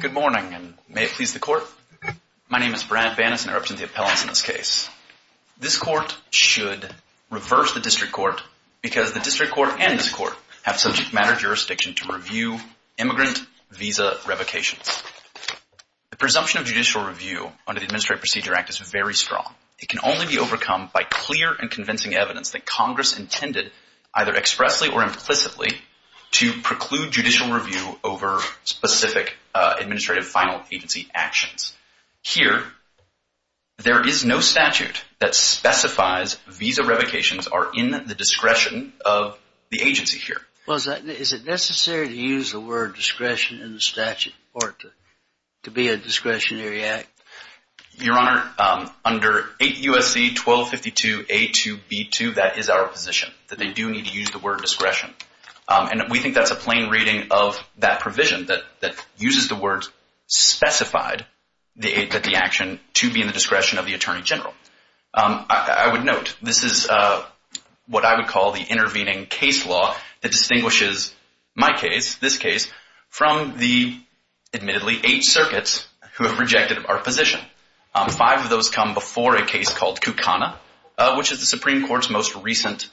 Good morning, and may it please the court. My name is Brent Bannis, and I represent the appellants in this case. This court should reverse the district court because the district court and this court have subject matter jurisdiction to review immigrant visa revocations. The presumption of judicial review under the Administrative Procedure Act is very strong. It can only be overcome by clear and convincing evidence that Congress intended either expressly or judicial review over specific administrative final agency actions. Here, there is no statute that specifies visa revocations are in the discretion of the agency here. Well, is it necessary to use the word discretion in the statute or to be a discretionary act? Your Honor, under 8 U.S.C. 1252A2B2, that is our position, that they do need to use the word discretion. And we think that's a plain reading of that provision that uses the words specified that the action to be in the discretion of the attorney general. I would note, this is what I would call the intervening case law that distinguishes my case, this case, from the admittedly eight circuits who have rejected our position. Five of those come before a case called Kukana, which is the Supreme Court's most recent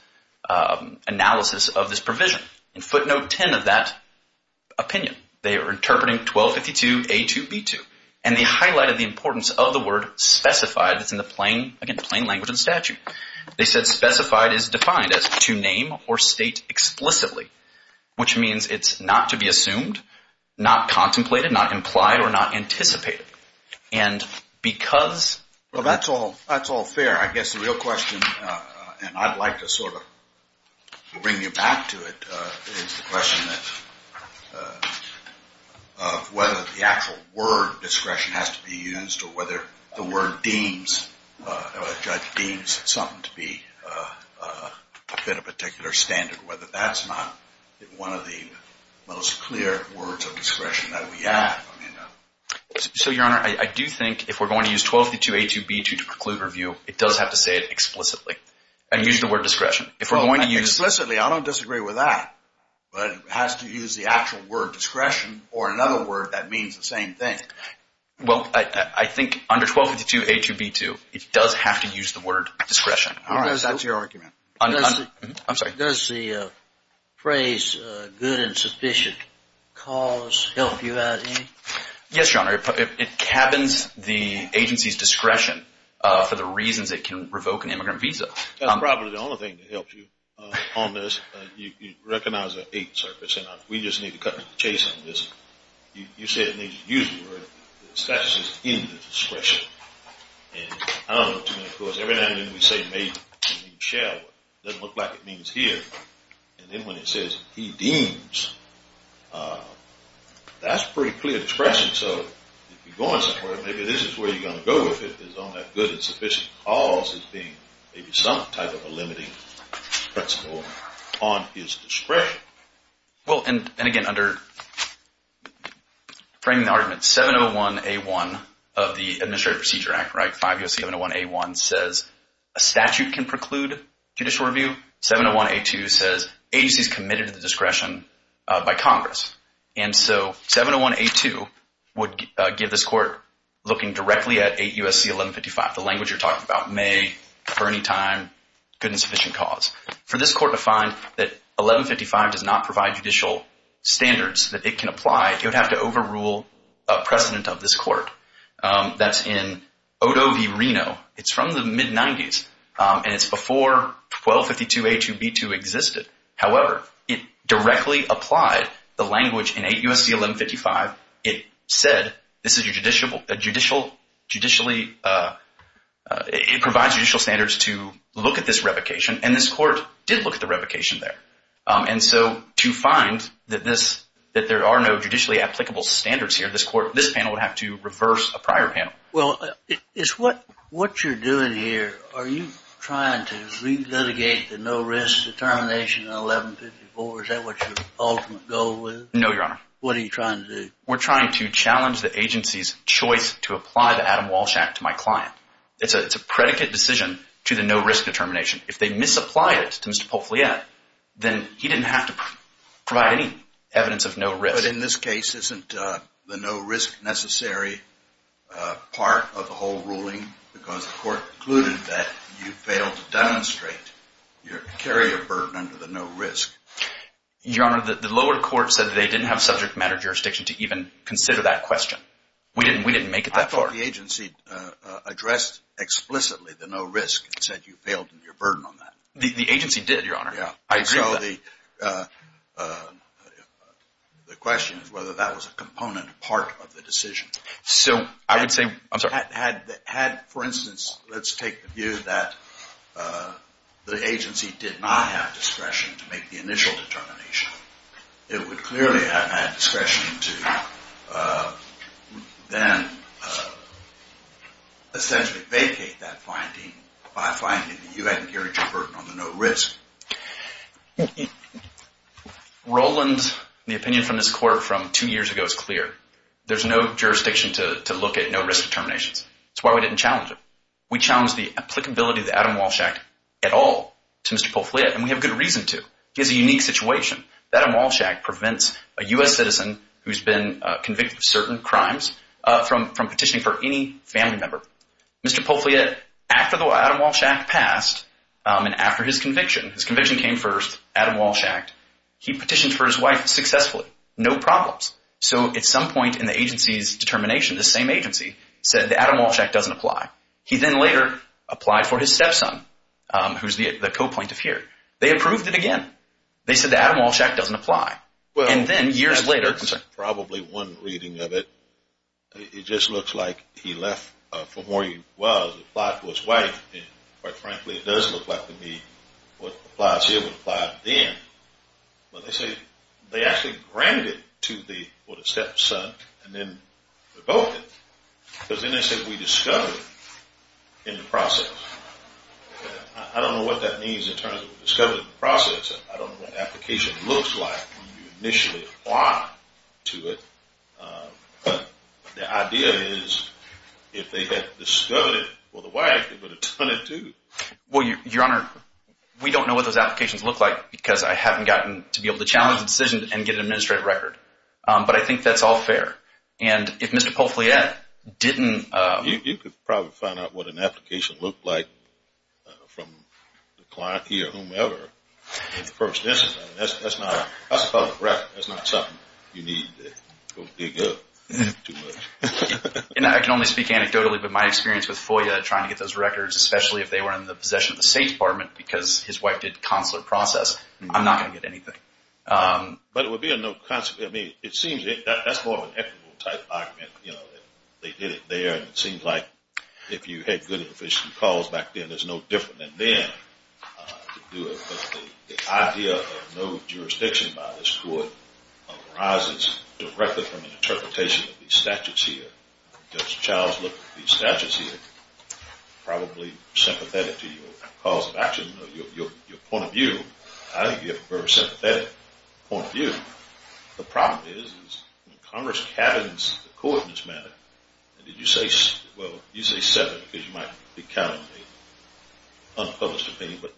analysis of this provision. In footnote 10 of that opinion, they are interpreting 1252A2B2, and they highlighted the importance of the word specified that's in the plain language of the statute. They said specified is defined as to name or state explicitly, which means it's not to be assumed, not contemplated, not implied, or not anticipated. And because Well, that's all fair. I guess the real question, and I'd like to sort of bring you back to it, is the question of whether the actual word discretion has to be used or whether the word deems, judge deems something to be a bit of a particular standard, whether that's not one of the most clear words of discretion that we have. So, Your Honor, I do think if we're going to use 1252A2B2 to preclude review, it does have to say it explicitly and use the word discretion. If we're going to use Explicitly, I don't disagree with that. But it has to use the actual word discretion or another word that means the same thing. Well, I think under 1252A2B2, it does have to use the word discretion. All right. So that's your argument. I'm sorry. Does the phrase good and sufficient cause help you out in any way? Yes, Your Honor. It cabins the agency's discretion for the reasons it can revoke an immigrant visa. That's probably the only thing that helps you on this. You recognize the eight surface and we just need to cut the chase on this. You said it needs to use the word. The statute says in the discretion. And I don't know too many of those. Every now and then we say may and shall. It doesn't look like it means here. And then when it says he deems, that's pretty clear discretion. So if you're going somewhere, maybe this is where you're going to go with it is on that good and sufficient cause as being maybe some type of a limiting principle on his discretion. Well, and again, under framing the argument, 701A1 of the Administrative Procedure Act, right, 5 U.S.C. 701A1 says a statute can preclude judicial review. 701A2 says agency is committed to the discretion by Congress. And so 701A2 would give this court looking directly at 8 U.S.C. 1155, the language you're talking about, may, for any time, good and sufficient cause. For this court to find that 1155 does not provide judicial standards that it can apply, it would have to overrule a precedent of this court that's in Odo v. Reno. It's from the mid-90s. And it's before 1252A2B2 existed. However, it directly applied the language in 8 U.S.C. 1155. It said this is your judicial, judicially, it provides judicial standards to look at this revocation. And this court did look at the revocation there. And so to find that there are no judicially applicable standards here, this panel would have to reverse a prior panel. Well, what you're doing here, are you trying to re-litigate the no-risk determination in 1154? Is that what your ultimate goal is? No, Your Honor. What are you trying to do? We're trying to challenge the agency's choice to apply the Adam Walsh Act to my client. It's a predicate decision to the no-risk determination. If they misapply it to Mr. Poufliere, then he didn't have to provide any evidence of no-risk. But in this case, isn't the no-risk necessary part of the whole ruling? Because the court concluded that you failed to demonstrate your carrier burden under the no-risk. Your Honor, the lower court said they didn't have subject matter jurisdiction to even consider that question. We didn't make it that far. I thought the agency addressed explicitly the no-risk and said you failed in your burden on that. The agency did, Your Honor. Yeah. I agree with that. So the question is whether that was a component part of the decision. So I would say, I'm sorry. Had, for instance, let's take the view that the agency did not have discretion to make the initial determination, it would clearly have had discretion to then essentially vacate that finding by finding that you hadn't carried your burden on the no-risk. Roland, the opinion from this court from two years ago is clear. There's no jurisdiction to look at no-risk determinations. That's why we didn't challenge it. We challenged the applicability of the Adam Walsh Act at all to Mr. Poufliere, and we have good reason to. He has a unique situation. The Adam Walsh Act prevents a U.S. citizen who's been convicted of certain crimes from petitioning for any family member. Mr. Poufliere, after the Adam Walsh Act passed and after his conviction, his conviction came first, Adam Walsh Act, he petitioned for his wife successfully, no problems. So at some point in the agency's determination, the same agency said the Adam Walsh Act doesn't apply. He then later applied for his stepson, who's the co-plaintiff here. They approved it again. They said the Adam Walsh Act doesn't apply. And then years later... There's probably one reading of it. It just looks like he left for where he was, applied for his wife. And quite frankly, it does look like to me what applies here would apply then. But they say they actually granted to the stepson and then revoked it. Because then they said we discovered in the process. I don't know what that means in terms of we discovered in the process. I don't know what an application looks like when you initially apply to it. The idea is if they had discovered it for the wife, they would have done it too. Well, Your Honor, we don't know what those applications look like because I haven't gotten to be able to challenge the decision and get an administrative record. But I think that's all fair. And if Mr. Poufliere didn't... You could probably find out what an application looked like from the client here, whomever. In the first instance, that's not... That's a public record. That's not something you need to go dig up too much. And I can only speak anecdotally, but my experience with FOIA trying to get those records, especially if they were in the possession of the State Department because his wife did consular process, I'm not going to get anything. But it would be a no consequence. I mean, it seems that's more of an equitable type argument. You know, they did it there. And it seems like if you had good and efficient calls back then, there's no different than then to do it. But the idea of no jurisdiction by this court arises directly from the interpretation of these statutes here. Judge Childs looked at these statutes here, probably sympathetic to your calls of action, your point of view. I think you have a very sympathetic point of view. The problem is, is when Congress cabins the court in this matter, and did you say... You say seven because you might be counting the unpublished opinion, but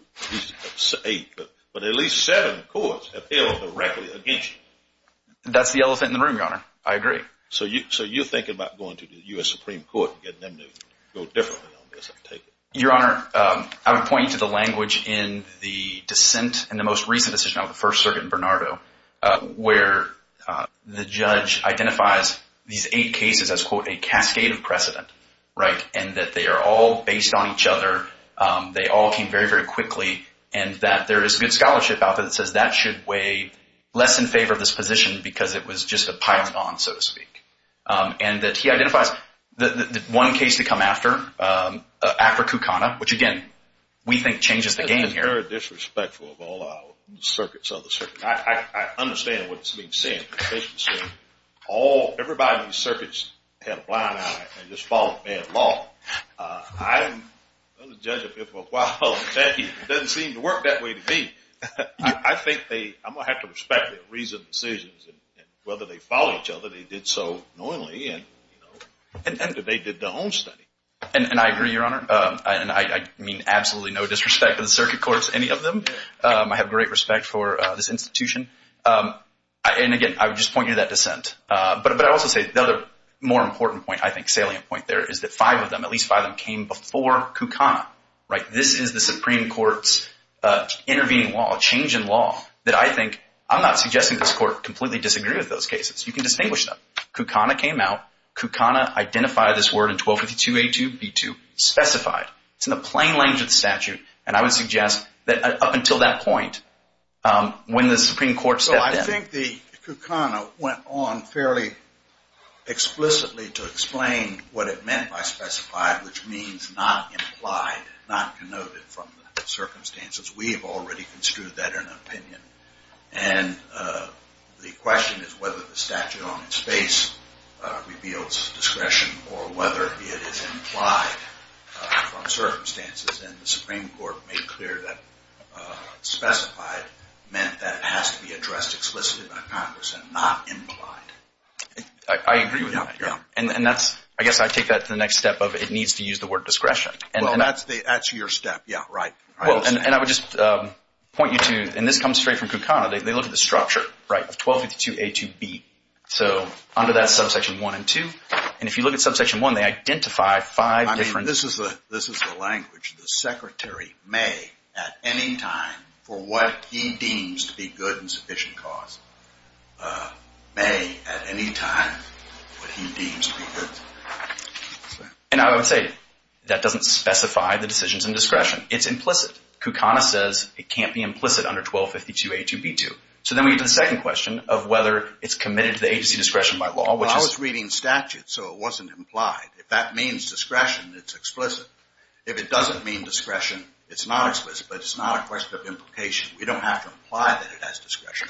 at least seven courts have held directly against you. That's the elephant in the room, Your Honor. I agree. So you're thinking about going to the U.S. Supreme Court and getting them to go differently on this, I take it? Your Honor, I would point you to the language in the dissent and the most recent decision of the First Circuit in Bernardo, where the judge identifies these eight cases as, quote, a cascade of precedent, right? And that they are all based on each other, they all came very, very quickly, and that there is a good scholarship out there that says that should weigh less in favor of this position because it was just a pile on, so to speak. And that he identifies the one case to come after, Acra Kucana, which again, we think changes the game here. It's very disrespectful of all our circuits of the circuit. I understand what's being said. I understand what's being said. All, everybody in the circuits had a blind eye and just followed bad law. I've been a judge of it for a while, and it doesn't seem to work that way to me. I think they, I'm going to have to respect their reasoned decisions and whether they follow each other. They did so knowingly, and they did their own study. And I agree, Your Honor. And I mean absolutely no disrespect to the circuit courts, any of them. I have great respect for this institution. And again, I would just point you to that dissent. But I also say the other more important point, I think salient point there, is that five of them, at least five of them, came before Kucana, right? This is the Supreme Court's intervening law, change in law that I think, I'm not suggesting this Court completely disagree with those cases. You can distinguish them. Kucana came out. Kucana identified this word in 1252a2b2, specified. It's in the plain language of the statute. And I would suggest that up until that point, when the Supreme Court stepped in. I think the Kucana went on fairly explicitly to explain what it meant by specified, which means not implied, not connoted from the circumstances. We have already construed that in an opinion. And the question is whether the statute on its face reveals discretion or whether it is implied from circumstances. And the Supreme Court made clear that specified meant that it has to be addressed explicitly by Congress and not implied. I agree with that. And that's, I guess I take that to the next step of it needs to use the word discretion. Well, that's your step. Yeah, right. Well, and I would just point you to, and this comes straight from Kucana. They look at the structure, right, of 1252a2b. So under that's subsection one and two. And if you look at subsection one, they identify five different. This is the language the secretary may at any time for what he deems to be good and sufficient cause, may at any time what he deems to be good. And I would say that doesn't specify the decisions in discretion. It's implicit. Kucana says it can't be implicit under 1252a2b2. So then we get to the second question of whether it's committed to the agency discretion by law. Well, I was reading statute, so it wasn't implied. If that means discretion, it's explicit. If it doesn't mean discretion, it's not explicit, but it's not a question of implication. We don't have to imply that it has discretion.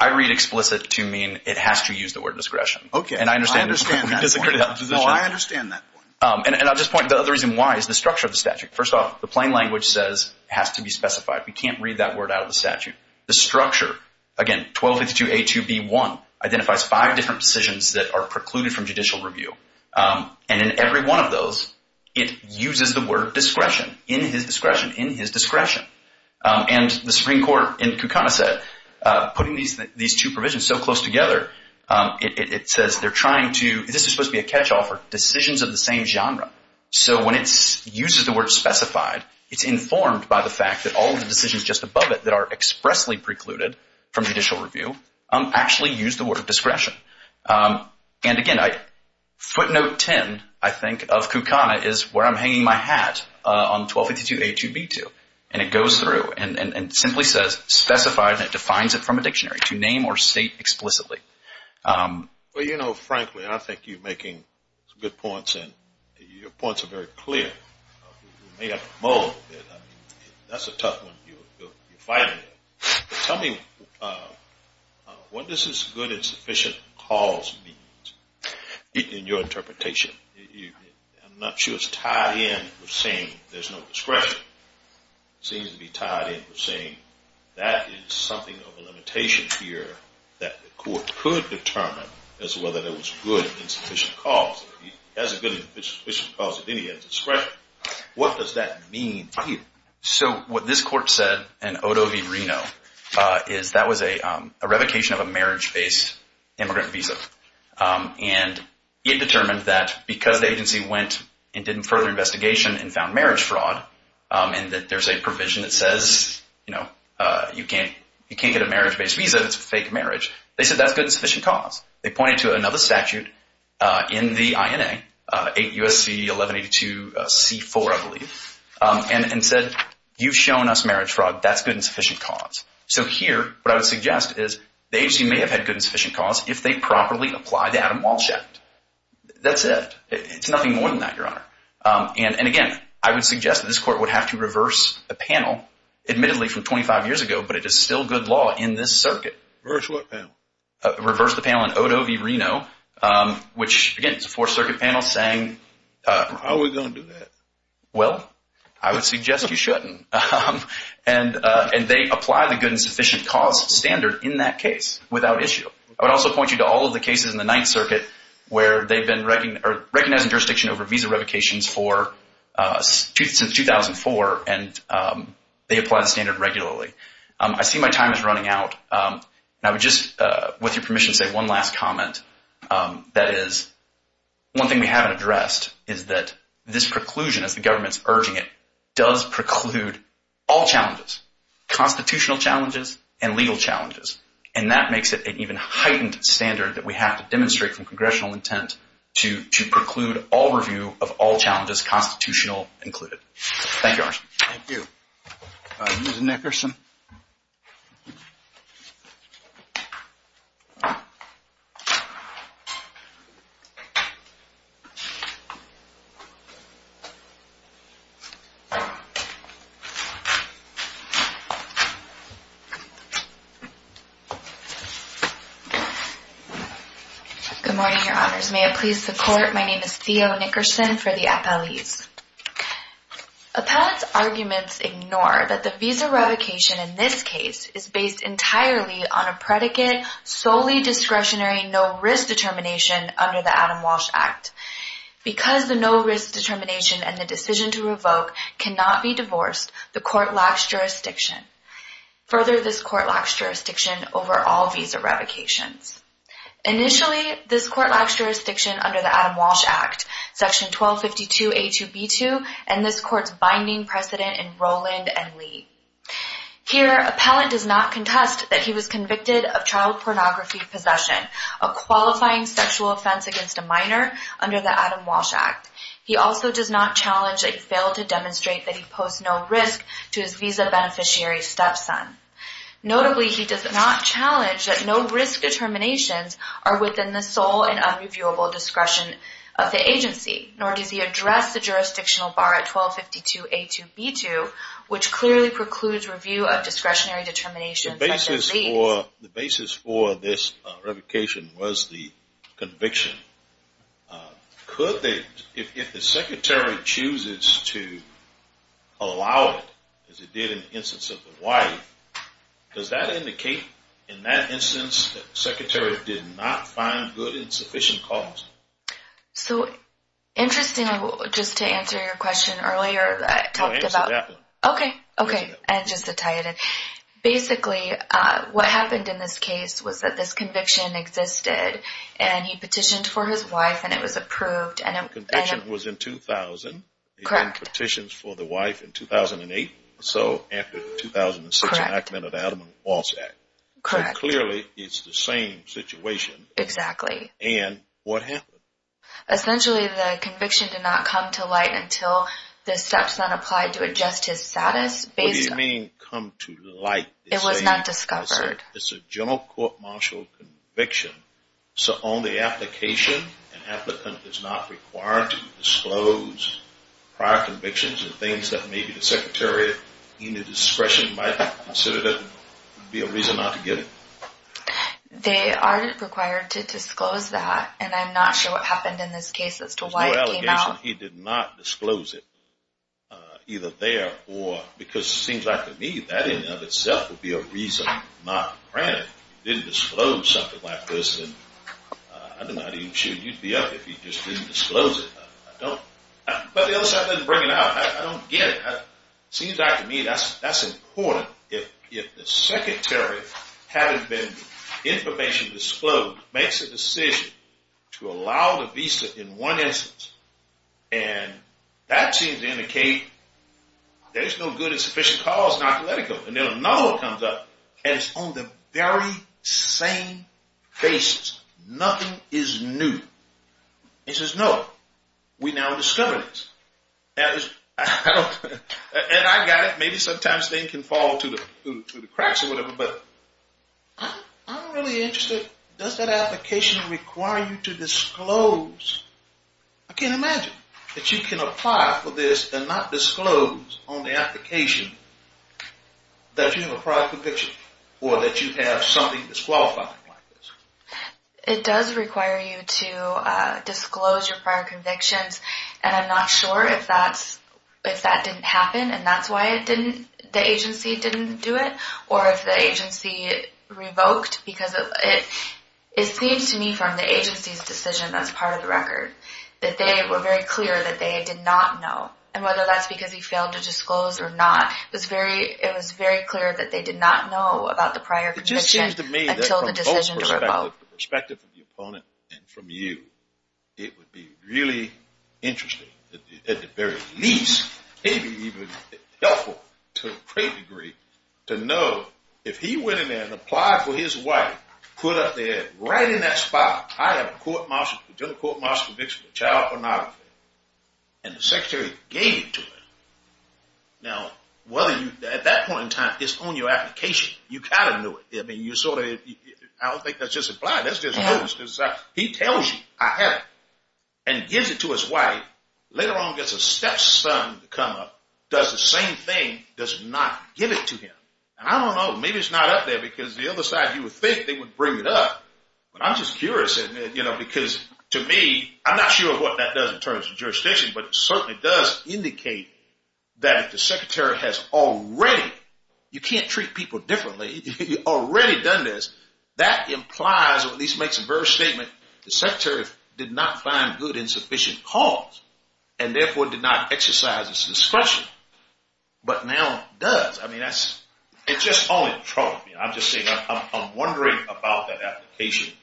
I read explicit to mean it has to use the word discretion. Okay. And I understand. No, I understand that point. And I'll just point, the reason why is the structure of the statute. First off, the plain language says it has to be specified. We can't read that word out of the statute. The structure, again, 1252a2b1 identifies five different decisions that are precluded from judicial review. And in every one of those, it uses the word discretion, in his discretion, in his discretion. And the Supreme Court in Kucana said, putting these two provisions so close together, it says they're trying to, this is supposed to be a catch-all for decisions of the same genre. So when it uses the word specified, it's informed by the fact that all of the decisions just above it that are expressly precluded from judicial review, actually use the word discretion. And again, footnote 10, I think, of Kucana is where I'm hanging my hat on 1252a2b2. And it goes through and simply says specified, and it defines it from a dictionary to name or state explicitly. Well, you know, frankly, I think you're making some good points. And your points are very clear. You made up a mold. That's a tough one. You're fighting it. Tell me, what does this good and sufficient cause mean in your interpretation? I'm not sure it's tied in with saying there's no discretion. It seems to be tied in with saying that is something of a limitation here that the court could determine as whether there was good and sufficient cause. If he has a good and sufficient cause, then he has discretion. What does that mean to you? So what this court said in Odo v. Reno is that was a revocation of a marriage-based immigrant visa. And it determined that because the agency went and did further investigation and found marriage fraud and that there's a provision that says, you know, you can't get a marriage-based visa if it's a fake marriage. They said that's good and sufficient cause. They pointed to another statute in the INA, 8 U.S.C. 1182c4, I believe, and said, you've shown us marriage fraud. That's good and sufficient cause. So here, what I would suggest is the agency may have had good and sufficient cause if they properly applied the Adam Walsh Act. That's it. It's nothing more than that, Your Honor. And again, I would suggest that this court would have to reverse a panel, admittedly from 25 years ago, but it is still good law in this circuit. Reverse what panel? Reverse the panel in Odo v. Reno, which, again, it's a Fourth Circuit panel saying... How are we going to do that? Well, I would suggest you shouldn't. And they apply the good and sufficient cause standard in that case without issue. I would also point you to all of the cases in the Ninth Circuit where they've been recognizing jurisdiction over visa revocations since 2004, and they apply the standard regularly. I see my time is running out, and I would just, with your permission, say one last comment. That is, one thing we haven't addressed is that this preclusion, as the government's urging it, does preclude all challenges, constitutional challenges and legal challenges. And that makes it an even heightened standard that we have to demonstrate from congressional intent to preclude all review of all challenges, constitutional included. Thank you, Your Honor. Thank you. Ms. Nickerson. Good morning, Your Honors. May it please the Court, my name is Theo Nickerson for the appellees. Appellate's arguments ignore that the visa revocation in this case is based entirely on a predicate, solely discretionary, no-risk determination under the Adam Walsh Act. Because the no-risk determination and the decision to revoke cannot be divorced, the Court lacks jurisdiction. Further, this Court lacks jurisdiction over all visa revocations. Initially, this Court lacks jurisdiction under the Adam Walsh Act, Section 1252A2B2, and this Court's binding precedent in Rowland and Lee. Here, appellant does not contest that he was convicted of child pornography possession, a qualifying sexual offense against a minor under the Adam Walsh Act. He also does not challenge that he failed to demonstrate that he posed no risk to his visa beneficiary's stepson. Notably, he does not challenge that no-risk determinations are within the sole and unreviewable discretion of the agency, nor does he address the jurisdictional bar at 1252A2B2, which clearly precludes review of discretionary determinations such as these. The basis for this revocation was the conviction. If the Secretary chooses to allow it, as it did in the instance of the wife, does that indicate, in that instance, that the Secretary did not find good and sufficient cause? So, interestingly, just to answer your question earlier, that I talked about... Answer that one. Okay, okay. And just to tie it in. Basically, what happened in this case was that this conviction existed and he petitioned for his wife and it was approved and... The conviction was in 2000. Correct. He did petitions for the wife in 2008, so after 2006 enactment of the Adam Walsh Act. Correct. So clearly, it's the same situation. Exactly. And what happened? Essentially, the conviction did not come to light until the steps that applied to adjust his status based on... What do you mean, come to light? It was not discovered. It's a general court-martial conviction, so on the application, an applicant is not required to disclose prior convictions and things that maybe the Secretary, in his discretion, might consider that would be a reason not to give. They are required to disclose that and I'm not sure what happened in this case as to why it came out. He did not disclose it either there or... Because it seems like to me that in and of itself would be a reason not granted. He didn't disclose something like this and I don't know how he should. You'd be up if he just didn't disclose it. But the other side doesn't bring it out. I don't get it. It seems like to me that's important. If the Secretary, having been information disclosed, makes a decision to allow the visa in one instance and that seems to indicate there's no good and sufficient cause not to let it go and then another one comes up and it's on the very same basis. Nothing is new. He says, no, we now discovered this. And I got it. Maybe sometimes things can fall to the cracks or whatever but I'm really interested. Does that application require you to disclose? I can't imagine that you can apply for this and not disclose on the application that you have a prior conviction or that you have something disqualifying like this. It does require you to disclose your prior convictions and I'm not sure if that didn't happen and that's why the agency didn't do it or if the agency revoked because it seems to me from the agency's decision that's part of the record that they were very clear that they did not know and whether that's because he failed to disclose or not. It was very clear that they did not know about the prior conviction until the decision to revoke. The perspective of the opponent and from you, it would be really interesting, at the very least, maybe even helpful to a great degree to know if he went in there and applied for his wife, put up there right in that spot, I have a general court martial conviction for child pornography and the secretary gave it to him. Now, at that point in time, it's on your application. You kind of knew it. I don't think that's just applied. He tells you, I have it and gives it to his wife, later on gets a stepson to come up, does the same thing, does not give it to him. And I don't know, maybe it's not up there because the other side, you would think they would bring it up, but I'm just curious because to me, I'm not sure what that does in terms of jurisdiction, but it certainly does indicate that if the secretary has already, you can't treat people differently, you've already done this, that implies or at least makes a very statement, the secretary did not find good insufficient cause and therefore did not exercise his discretion. But now it does. I mean, it's just all in trouble. I'm just saying, I'm wondering about that application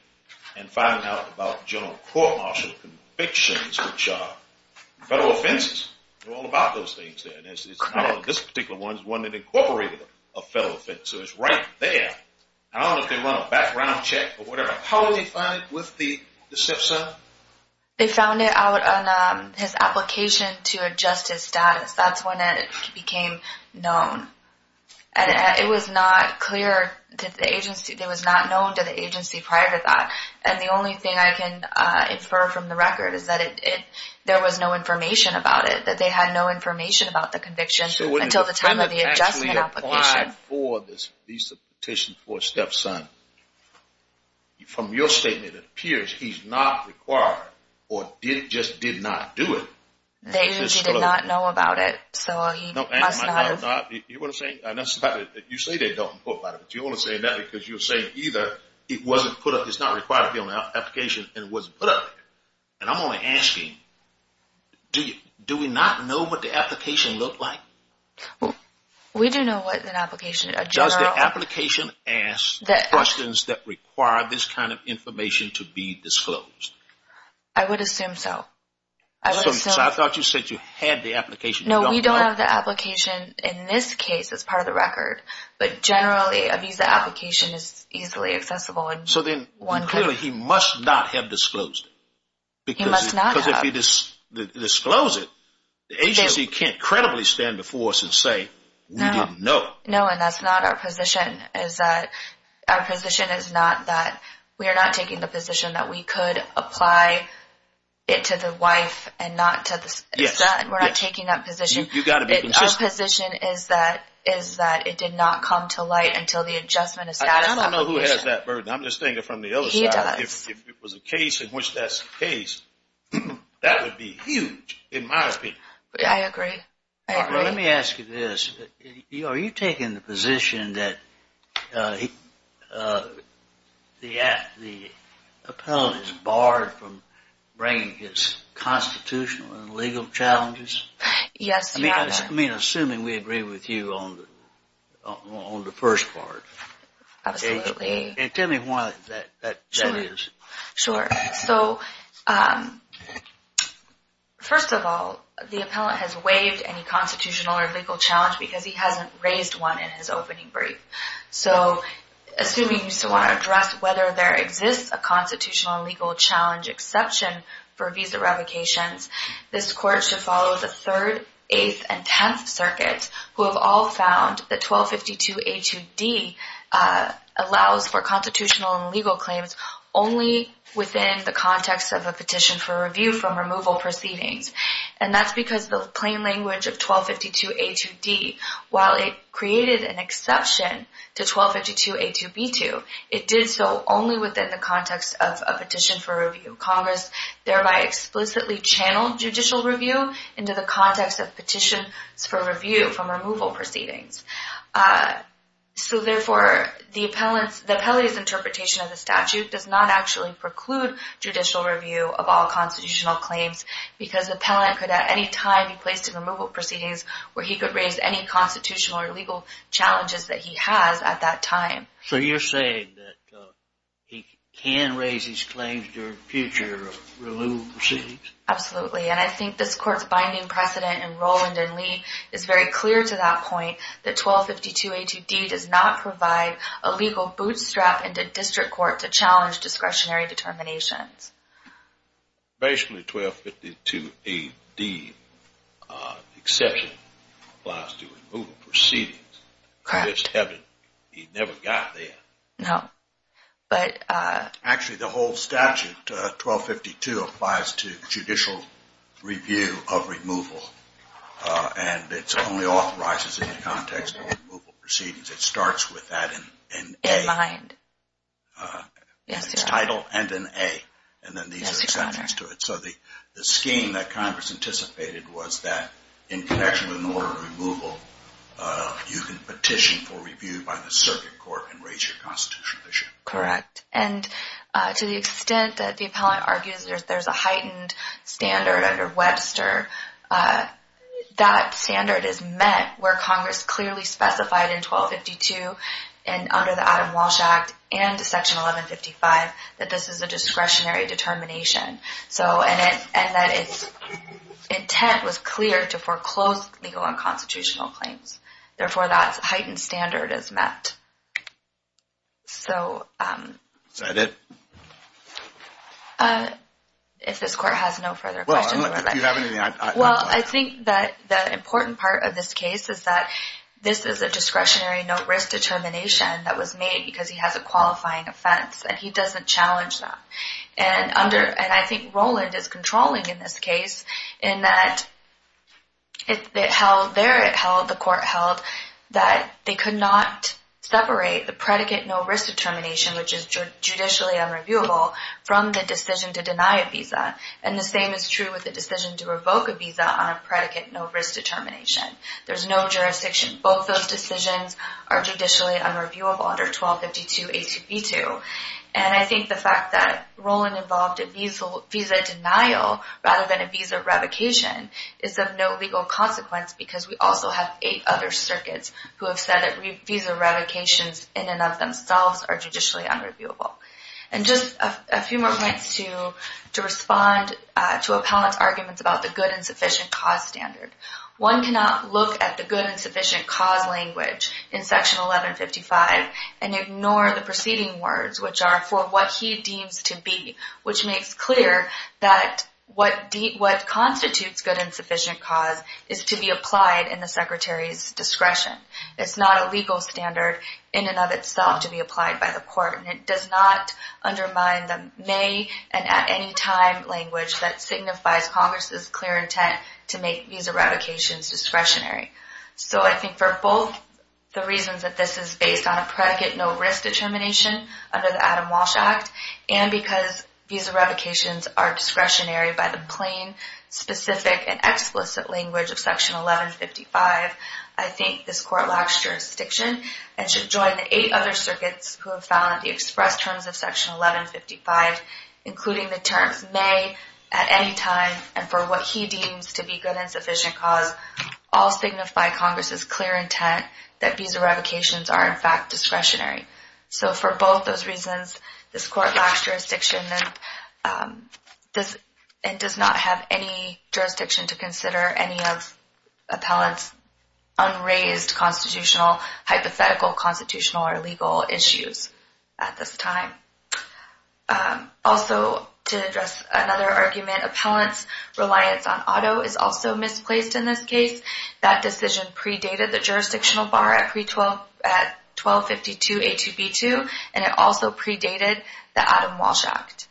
and finding out about general court martial convictions, which are federal offenses. They're all about those things. This particular one is one that incorporated a federal offense, so it's right there. I don't know if they run a background check or whatever. How would they find it with the stepson? They found it out on his application to adjust his status. That's when it became known. It was not clear that the agency, it was not known to the agency prior to that. And the only thing I can infer from the record is that there was no information about it, that they had no information about the conviction until the time of the adjustment application. So when the defendant actually applied for this visa petition for a stepson, from your statement, it appears he's not required or just did not do it. The agency did not know about it. So he must not have... You want to say, you say they don't know about it, but you want to say that because you're saying either it wasn't put up, it's not required to be on the application and it wasn't put up there. And I'm only asking, do we not know what the application looked like? We do know what an application, a general... Does the application ask questions that require this kind of information to be disclosed? I would assume so. So I thought you said you had the application. No, we don't have the application. In this case, it's part of the record, but generally a visa application is easily accessible. So then clearly he must not have disclosed it. He must not have. Because if he disclosed it, the agency can't credibly stand before us and say, we didn't know. No, and that's not our position, is that our position is not that we are not taking the position that we could apply it to the wife and not to the son. We're not taking that position. You got to be consistent. Our position is that it did not come to light until the adjustment of status. I don't know who has that burden. I'm just thinking from the other side. If it was a case in which that's the case, that would be huge in my opinion. I agree. Let me ask you this. Are you taking the position that the appellant is barred from bringing his constitutional and legal challenges? Yes. Assuming we agree with you on the first part. And tell me why that is. Sure. So first of all, the appellant has waived any constitutional or legal challenge because he hasn't raised one in his opening brief. So assuming you still want to address whether there exists a constitutional and legal challenge exception for visa revocations, this court should follow the 3rd, 8th, and 10th circuits who have all found that 1252 A2D allows for constitutional and legal claims only within the context of a petition for review from removal proceedings. And that's because the plain language of 1252 A2D, while it created an exception to 1252 A2B2, it did so only within the context of a petition for review. Congress thereby explicitly channeled judicial review into the context of petitions for review from removal proceedings. So therefore, the appellate's interpretation of the statute does not actually preclude judicial review of all constitutional claims because the appellant could at any time be placed in removal proceedings where he could raise any constitutional or legal challenges that he has at that time. So you're saying that he can raise his claims during future removal proceedings? Absolutely. And I think this court's binding precedent in Rowland and Lee is very clear to that point that 1252 A2D does not provide a legal bootstrap into district court to challenge discretionary determinations. Basically, 1252 A2D exception applies to removal proceedings. Correct. In this case, he never got there. No, but... Actually, the whole statute, 1252, applies to judicial review of removal. And it only authorizes it in the context of removal proceedings. It starts with that in A. In mind. Yes, Your Honor. In its title and in A. And then these are exceptions to it. So the scheme that Congress anticipated was that in connection with an order of removal, you can petition for review by the circuit court and raise your constitutional issue. Correct. And to the extent that the appellant argues there's a heightened standard under Webster, that standard is met where Congress clearly specified in 1252 and under the Adam Walsh Act and Section 1155 that this is a discretionary determination. And that its intent was clear to foreclose legal and constitutional claims. Therefore, that heightened standard is met. So... Is that it? If this court has no further questions... Well, if you have anything... Well, I think that the important part of this case is that this is a discretionary no-risk determination that was made because he has a qualifying offense and he doesn't challenge that. And under... And I think Roland is controlling in this case in that it held... There it held, the court held that they could not separate the predicate no-risk determination, which is judicially unreviewable from the decision to deny a visa. And the same is true with the decision to revoke a visa on a predicate no-risk determination. There's no jurisdiction. Both those decisions are judicially unreviewable under 1252 A2B2. And I think the fact that Roland involved a visa denial rather than a visa revocation is of no legal consequence because we also have eight other circuits who have said that visa revocations in and of themselves are judicially unreviewable. And just a few more points to respond to appellant's arguments about the good and sufficient cause standard. One cannot look at the good and sufficient cause language in section 1155 and ignore the preceding words, which are for what he deems to be, which makes clear that what constitutes good and sufficient cause is to be applied in the secretary's discretion. It's not a legal standard in and of itself to be applied by the court. And it does not undermine the may and at any time language that signifies Congress's clear intent to make visa revocations discretionary. So I think for both the reasons that this is based on a predicate, no risk determination under the Adam Walsh Act and because visa revocations are discretionary by the plain, specific and explicit language of section 1155, I think this court lacks jurisdiction and should join the eight other circuits who have found the express terms of section 1155, including the terms may, at any time and for what he deems to be good and sufficient cause, all signify Congress's clear intent that visa revocations are in fact discretionary. So for both those reasons, this court lacks jurisdiction and does not have any jurisdiction to consider any of appellant's unraised constitutional, hypothetical, constitutional or legal issues at this time. Also to address another argument, appellant's reliance on auto is also misplaced in this case. That decision predated the jurisdictional bar at 1252 A2B2 and it also predated the Adam Walsh Act.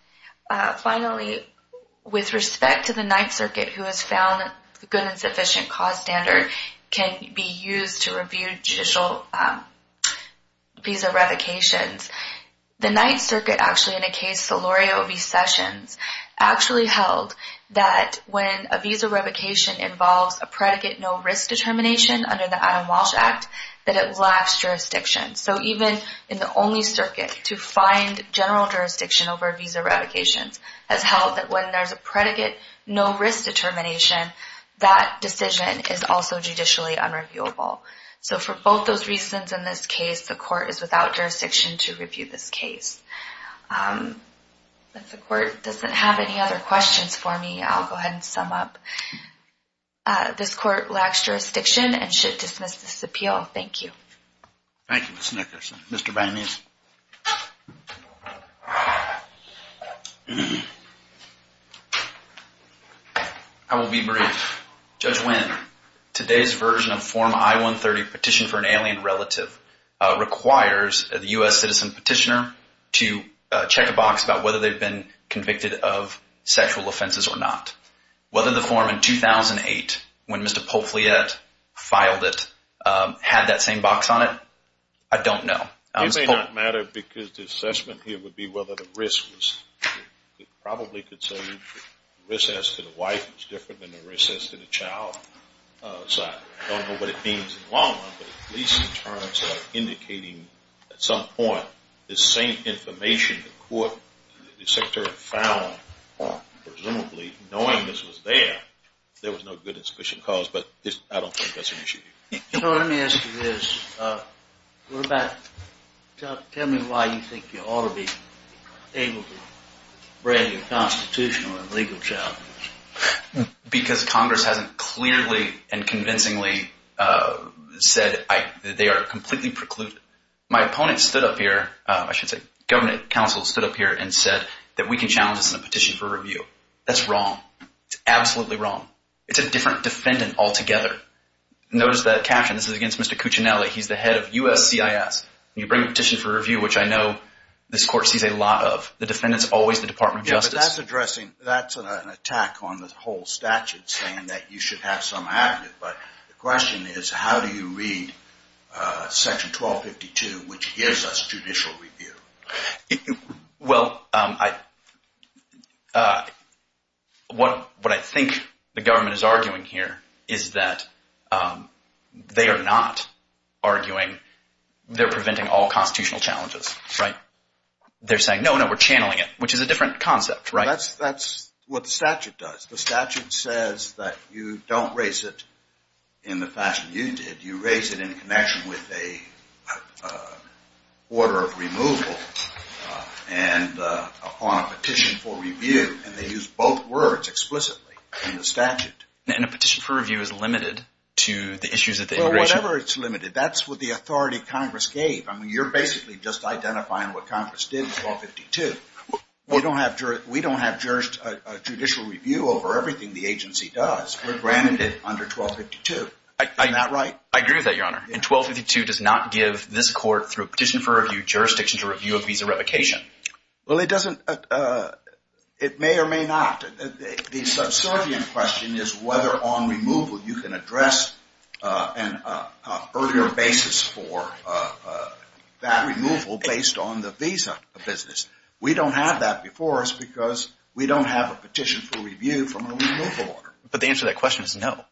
Finally, with respect to the Ninth Circuit who has found the good and sufficient cause standard can be used to review judicial visa revocations, the Ninth Circuit actually in a case, Solorio v. Sessions, actually held that when a visa revocation involves a predicate no risk determination under the Adam Walsh Act, that it lacks jurisdiction. So even in the only circuit to find general jurisdiction over visa revocations has held that when there's a predicate no risk determination, that decision is also judicially unreviewable. So for both those reasons in this case, the court is without jurisdiction to review this case. If the court doesn't have any other questions for me, I'll go ahead and sum up. This court lacks jurisdiction and should dismiss this appeal. Thank you. Thank you, Ms. Nickerson. Mr. Vannese. I will be brief. Judge Winn, today's version of Form I-130, Petition for an Alien Relative, requires the U.S. citizen petitioner to check a box about whether they've been convicted of sexual offenses or not. Whether the form in 2008, when Mr. Poufliat filed it, had that same box on it, I don't know. It may not matter because the assessment here would be whether the risk was, it probably could say the risk as to the wife is different than the risk as to the child. So I don't know what it means in the long run, but at least in terms of indicating at some point the same information the court, the secretary found presumably, knowing this was there, there was no good and sufficient cause, but I don't think that's an issue here. You know, let me ask you this. What about, tell me why you think you ought to be able to bring a constitutional and legal challenge? Because Congress hasn't clearly and convincingly said they are completely precluded. My opponent stood up here, I should say, government counsel stood up here and said that we can challenge this in a petition for review. That's wrong. It's absolutely wrong. It's a different defendant altogether. Notice that caption. This is against Mr. Cuccinelli. He's the head of USCIS. You bring a petition for review, which I know this court sees a lot of. The defendant's always the Department of Justice. Yeah, but that's addressing, that's an attack on the whole statute saying that you should have some active, but the question is, how do you read section 1252, which gives us judicial review? Well, what I think the government is arguing here is that they are not arguing, they're preventing all constitutional challenges, right? They're saying, no, no, we're channeling it, which is a different concept, right? That's what the statute does. The statute says that you don't raise it in the fashion you did. You raise it in connection with a order of removal and upon a petition for review, and they use both words explicitly in the statute. And a petition for review is limited to the issues of the immigration? Well, whatever it's limited, that's what the authority Congress gave. I mean, you're basically just identifying what Congress did in 1252. We don't have judicial review over everything the agency does. We're granted it under 1252, is that right? I agree with that, Your Honor. And 1252 does not give this court, through a petition for review, jurisdiction to review a visa revocation. Well, it doesn't, it may or may not. The subservient question is whether on removal you can address an earlier basis for that removal based on the visa business. We don't have that before us because we don't have a petition for review from a removal order. But the answer to that question is no.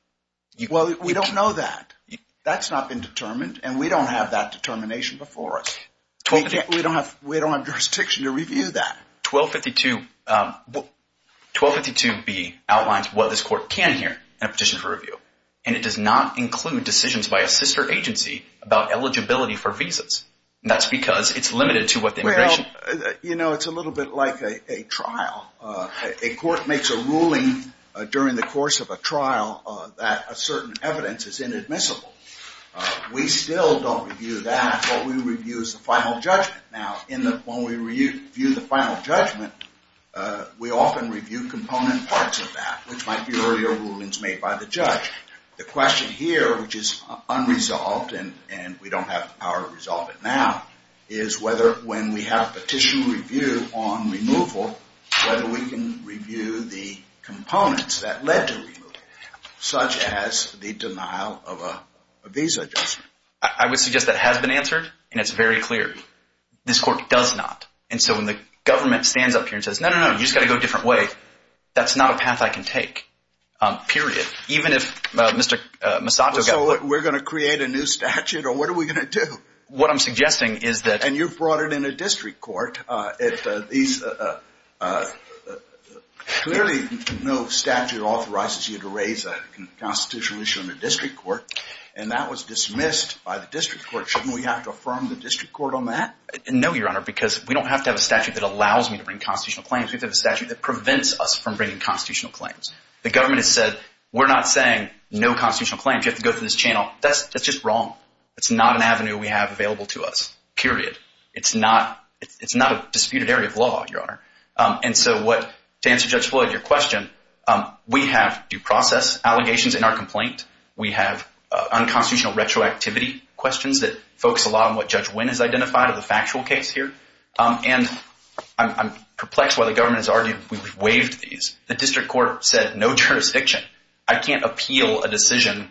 Well, we don't know that. That's not been determined, and we don't have that determination before us. We don't have jurisdiction to review that. 1252B outlines what this court can hear in a petition for review, and it does not include decisions by a sister agency about eligibility for visas. That's because it's limited to what the immigration- You know, it's a little bit like a trial. A court makes a ruling during the course of a trial that a certain evidence is inadmissible. We still don't review that. What we review is the final judgment. Now, when we review the final judgment, we often review component parts of that, which might be earlier rulings made by the judge. The question here, which is unresolved, and we don't have the power to resolve it now, is whether when we have a petition review on removal, whether we can review the components that led to removal, such as the denial of a visa adjustment. I would suggest that has been answered, and it's very clear. This court does not. And so when the government stands up here and says, no, no, no, you just got to go a different way, that's not a path I can take, period. Even if Mr. Misato got put- We're going to create a new statute, or what are we going to do? What I'm suggesting is that- And you've brought it in a district court. If these- Clearly, no statute authorizes you to raise a constitutional issue in a district court, and that was dismissed by the district court. Shouldn't we have to affirm the district court on that? No, Your Honor, because we don't have to have a statute that allows me to bring constitutional claims. We have to have a statute that prevents us from bringing constitutional claims. The government has said, we're not saying no constitutional claims. You have to go through this channel. That's just wrong. It's not an avenue we have available to us, period. It's not a disputed area of law, Your Honor. And so what- To answer Judge Floyd, your question, we have due process allegations in our complaint. We have unconstitutional retroactivity questions that focus a lot on what Judge Wynn has identified of the factual case here. And I'm perplexed why the government has argued we waived these. The district court said, no jurisdiction. I can't appeal a decision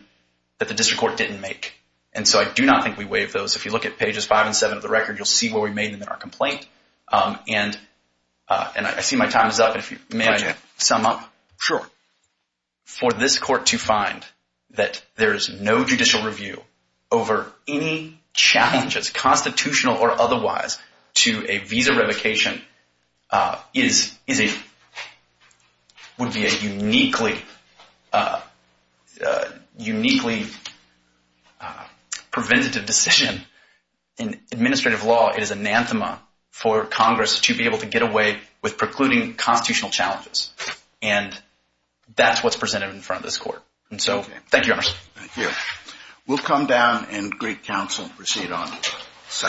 that the district court didn't make. And so I do not think we waived those. If you look at pages five and seven of the record, you'll see where we made them in our complaint. And I see my time is up. If you may, I can sum up. Sure. For this court to find that there is no judicial review over any challenges, constitutional or otherwise, to a visa revocation would be a uniquely preventative decision in administrative law. It is anathema for Congress to be able to get away with precluding constitutional challenges. And that's what's presented in front of this court. And so, thank you, Your Honor. Thank you. We'll come down and greet counsel and proceed on.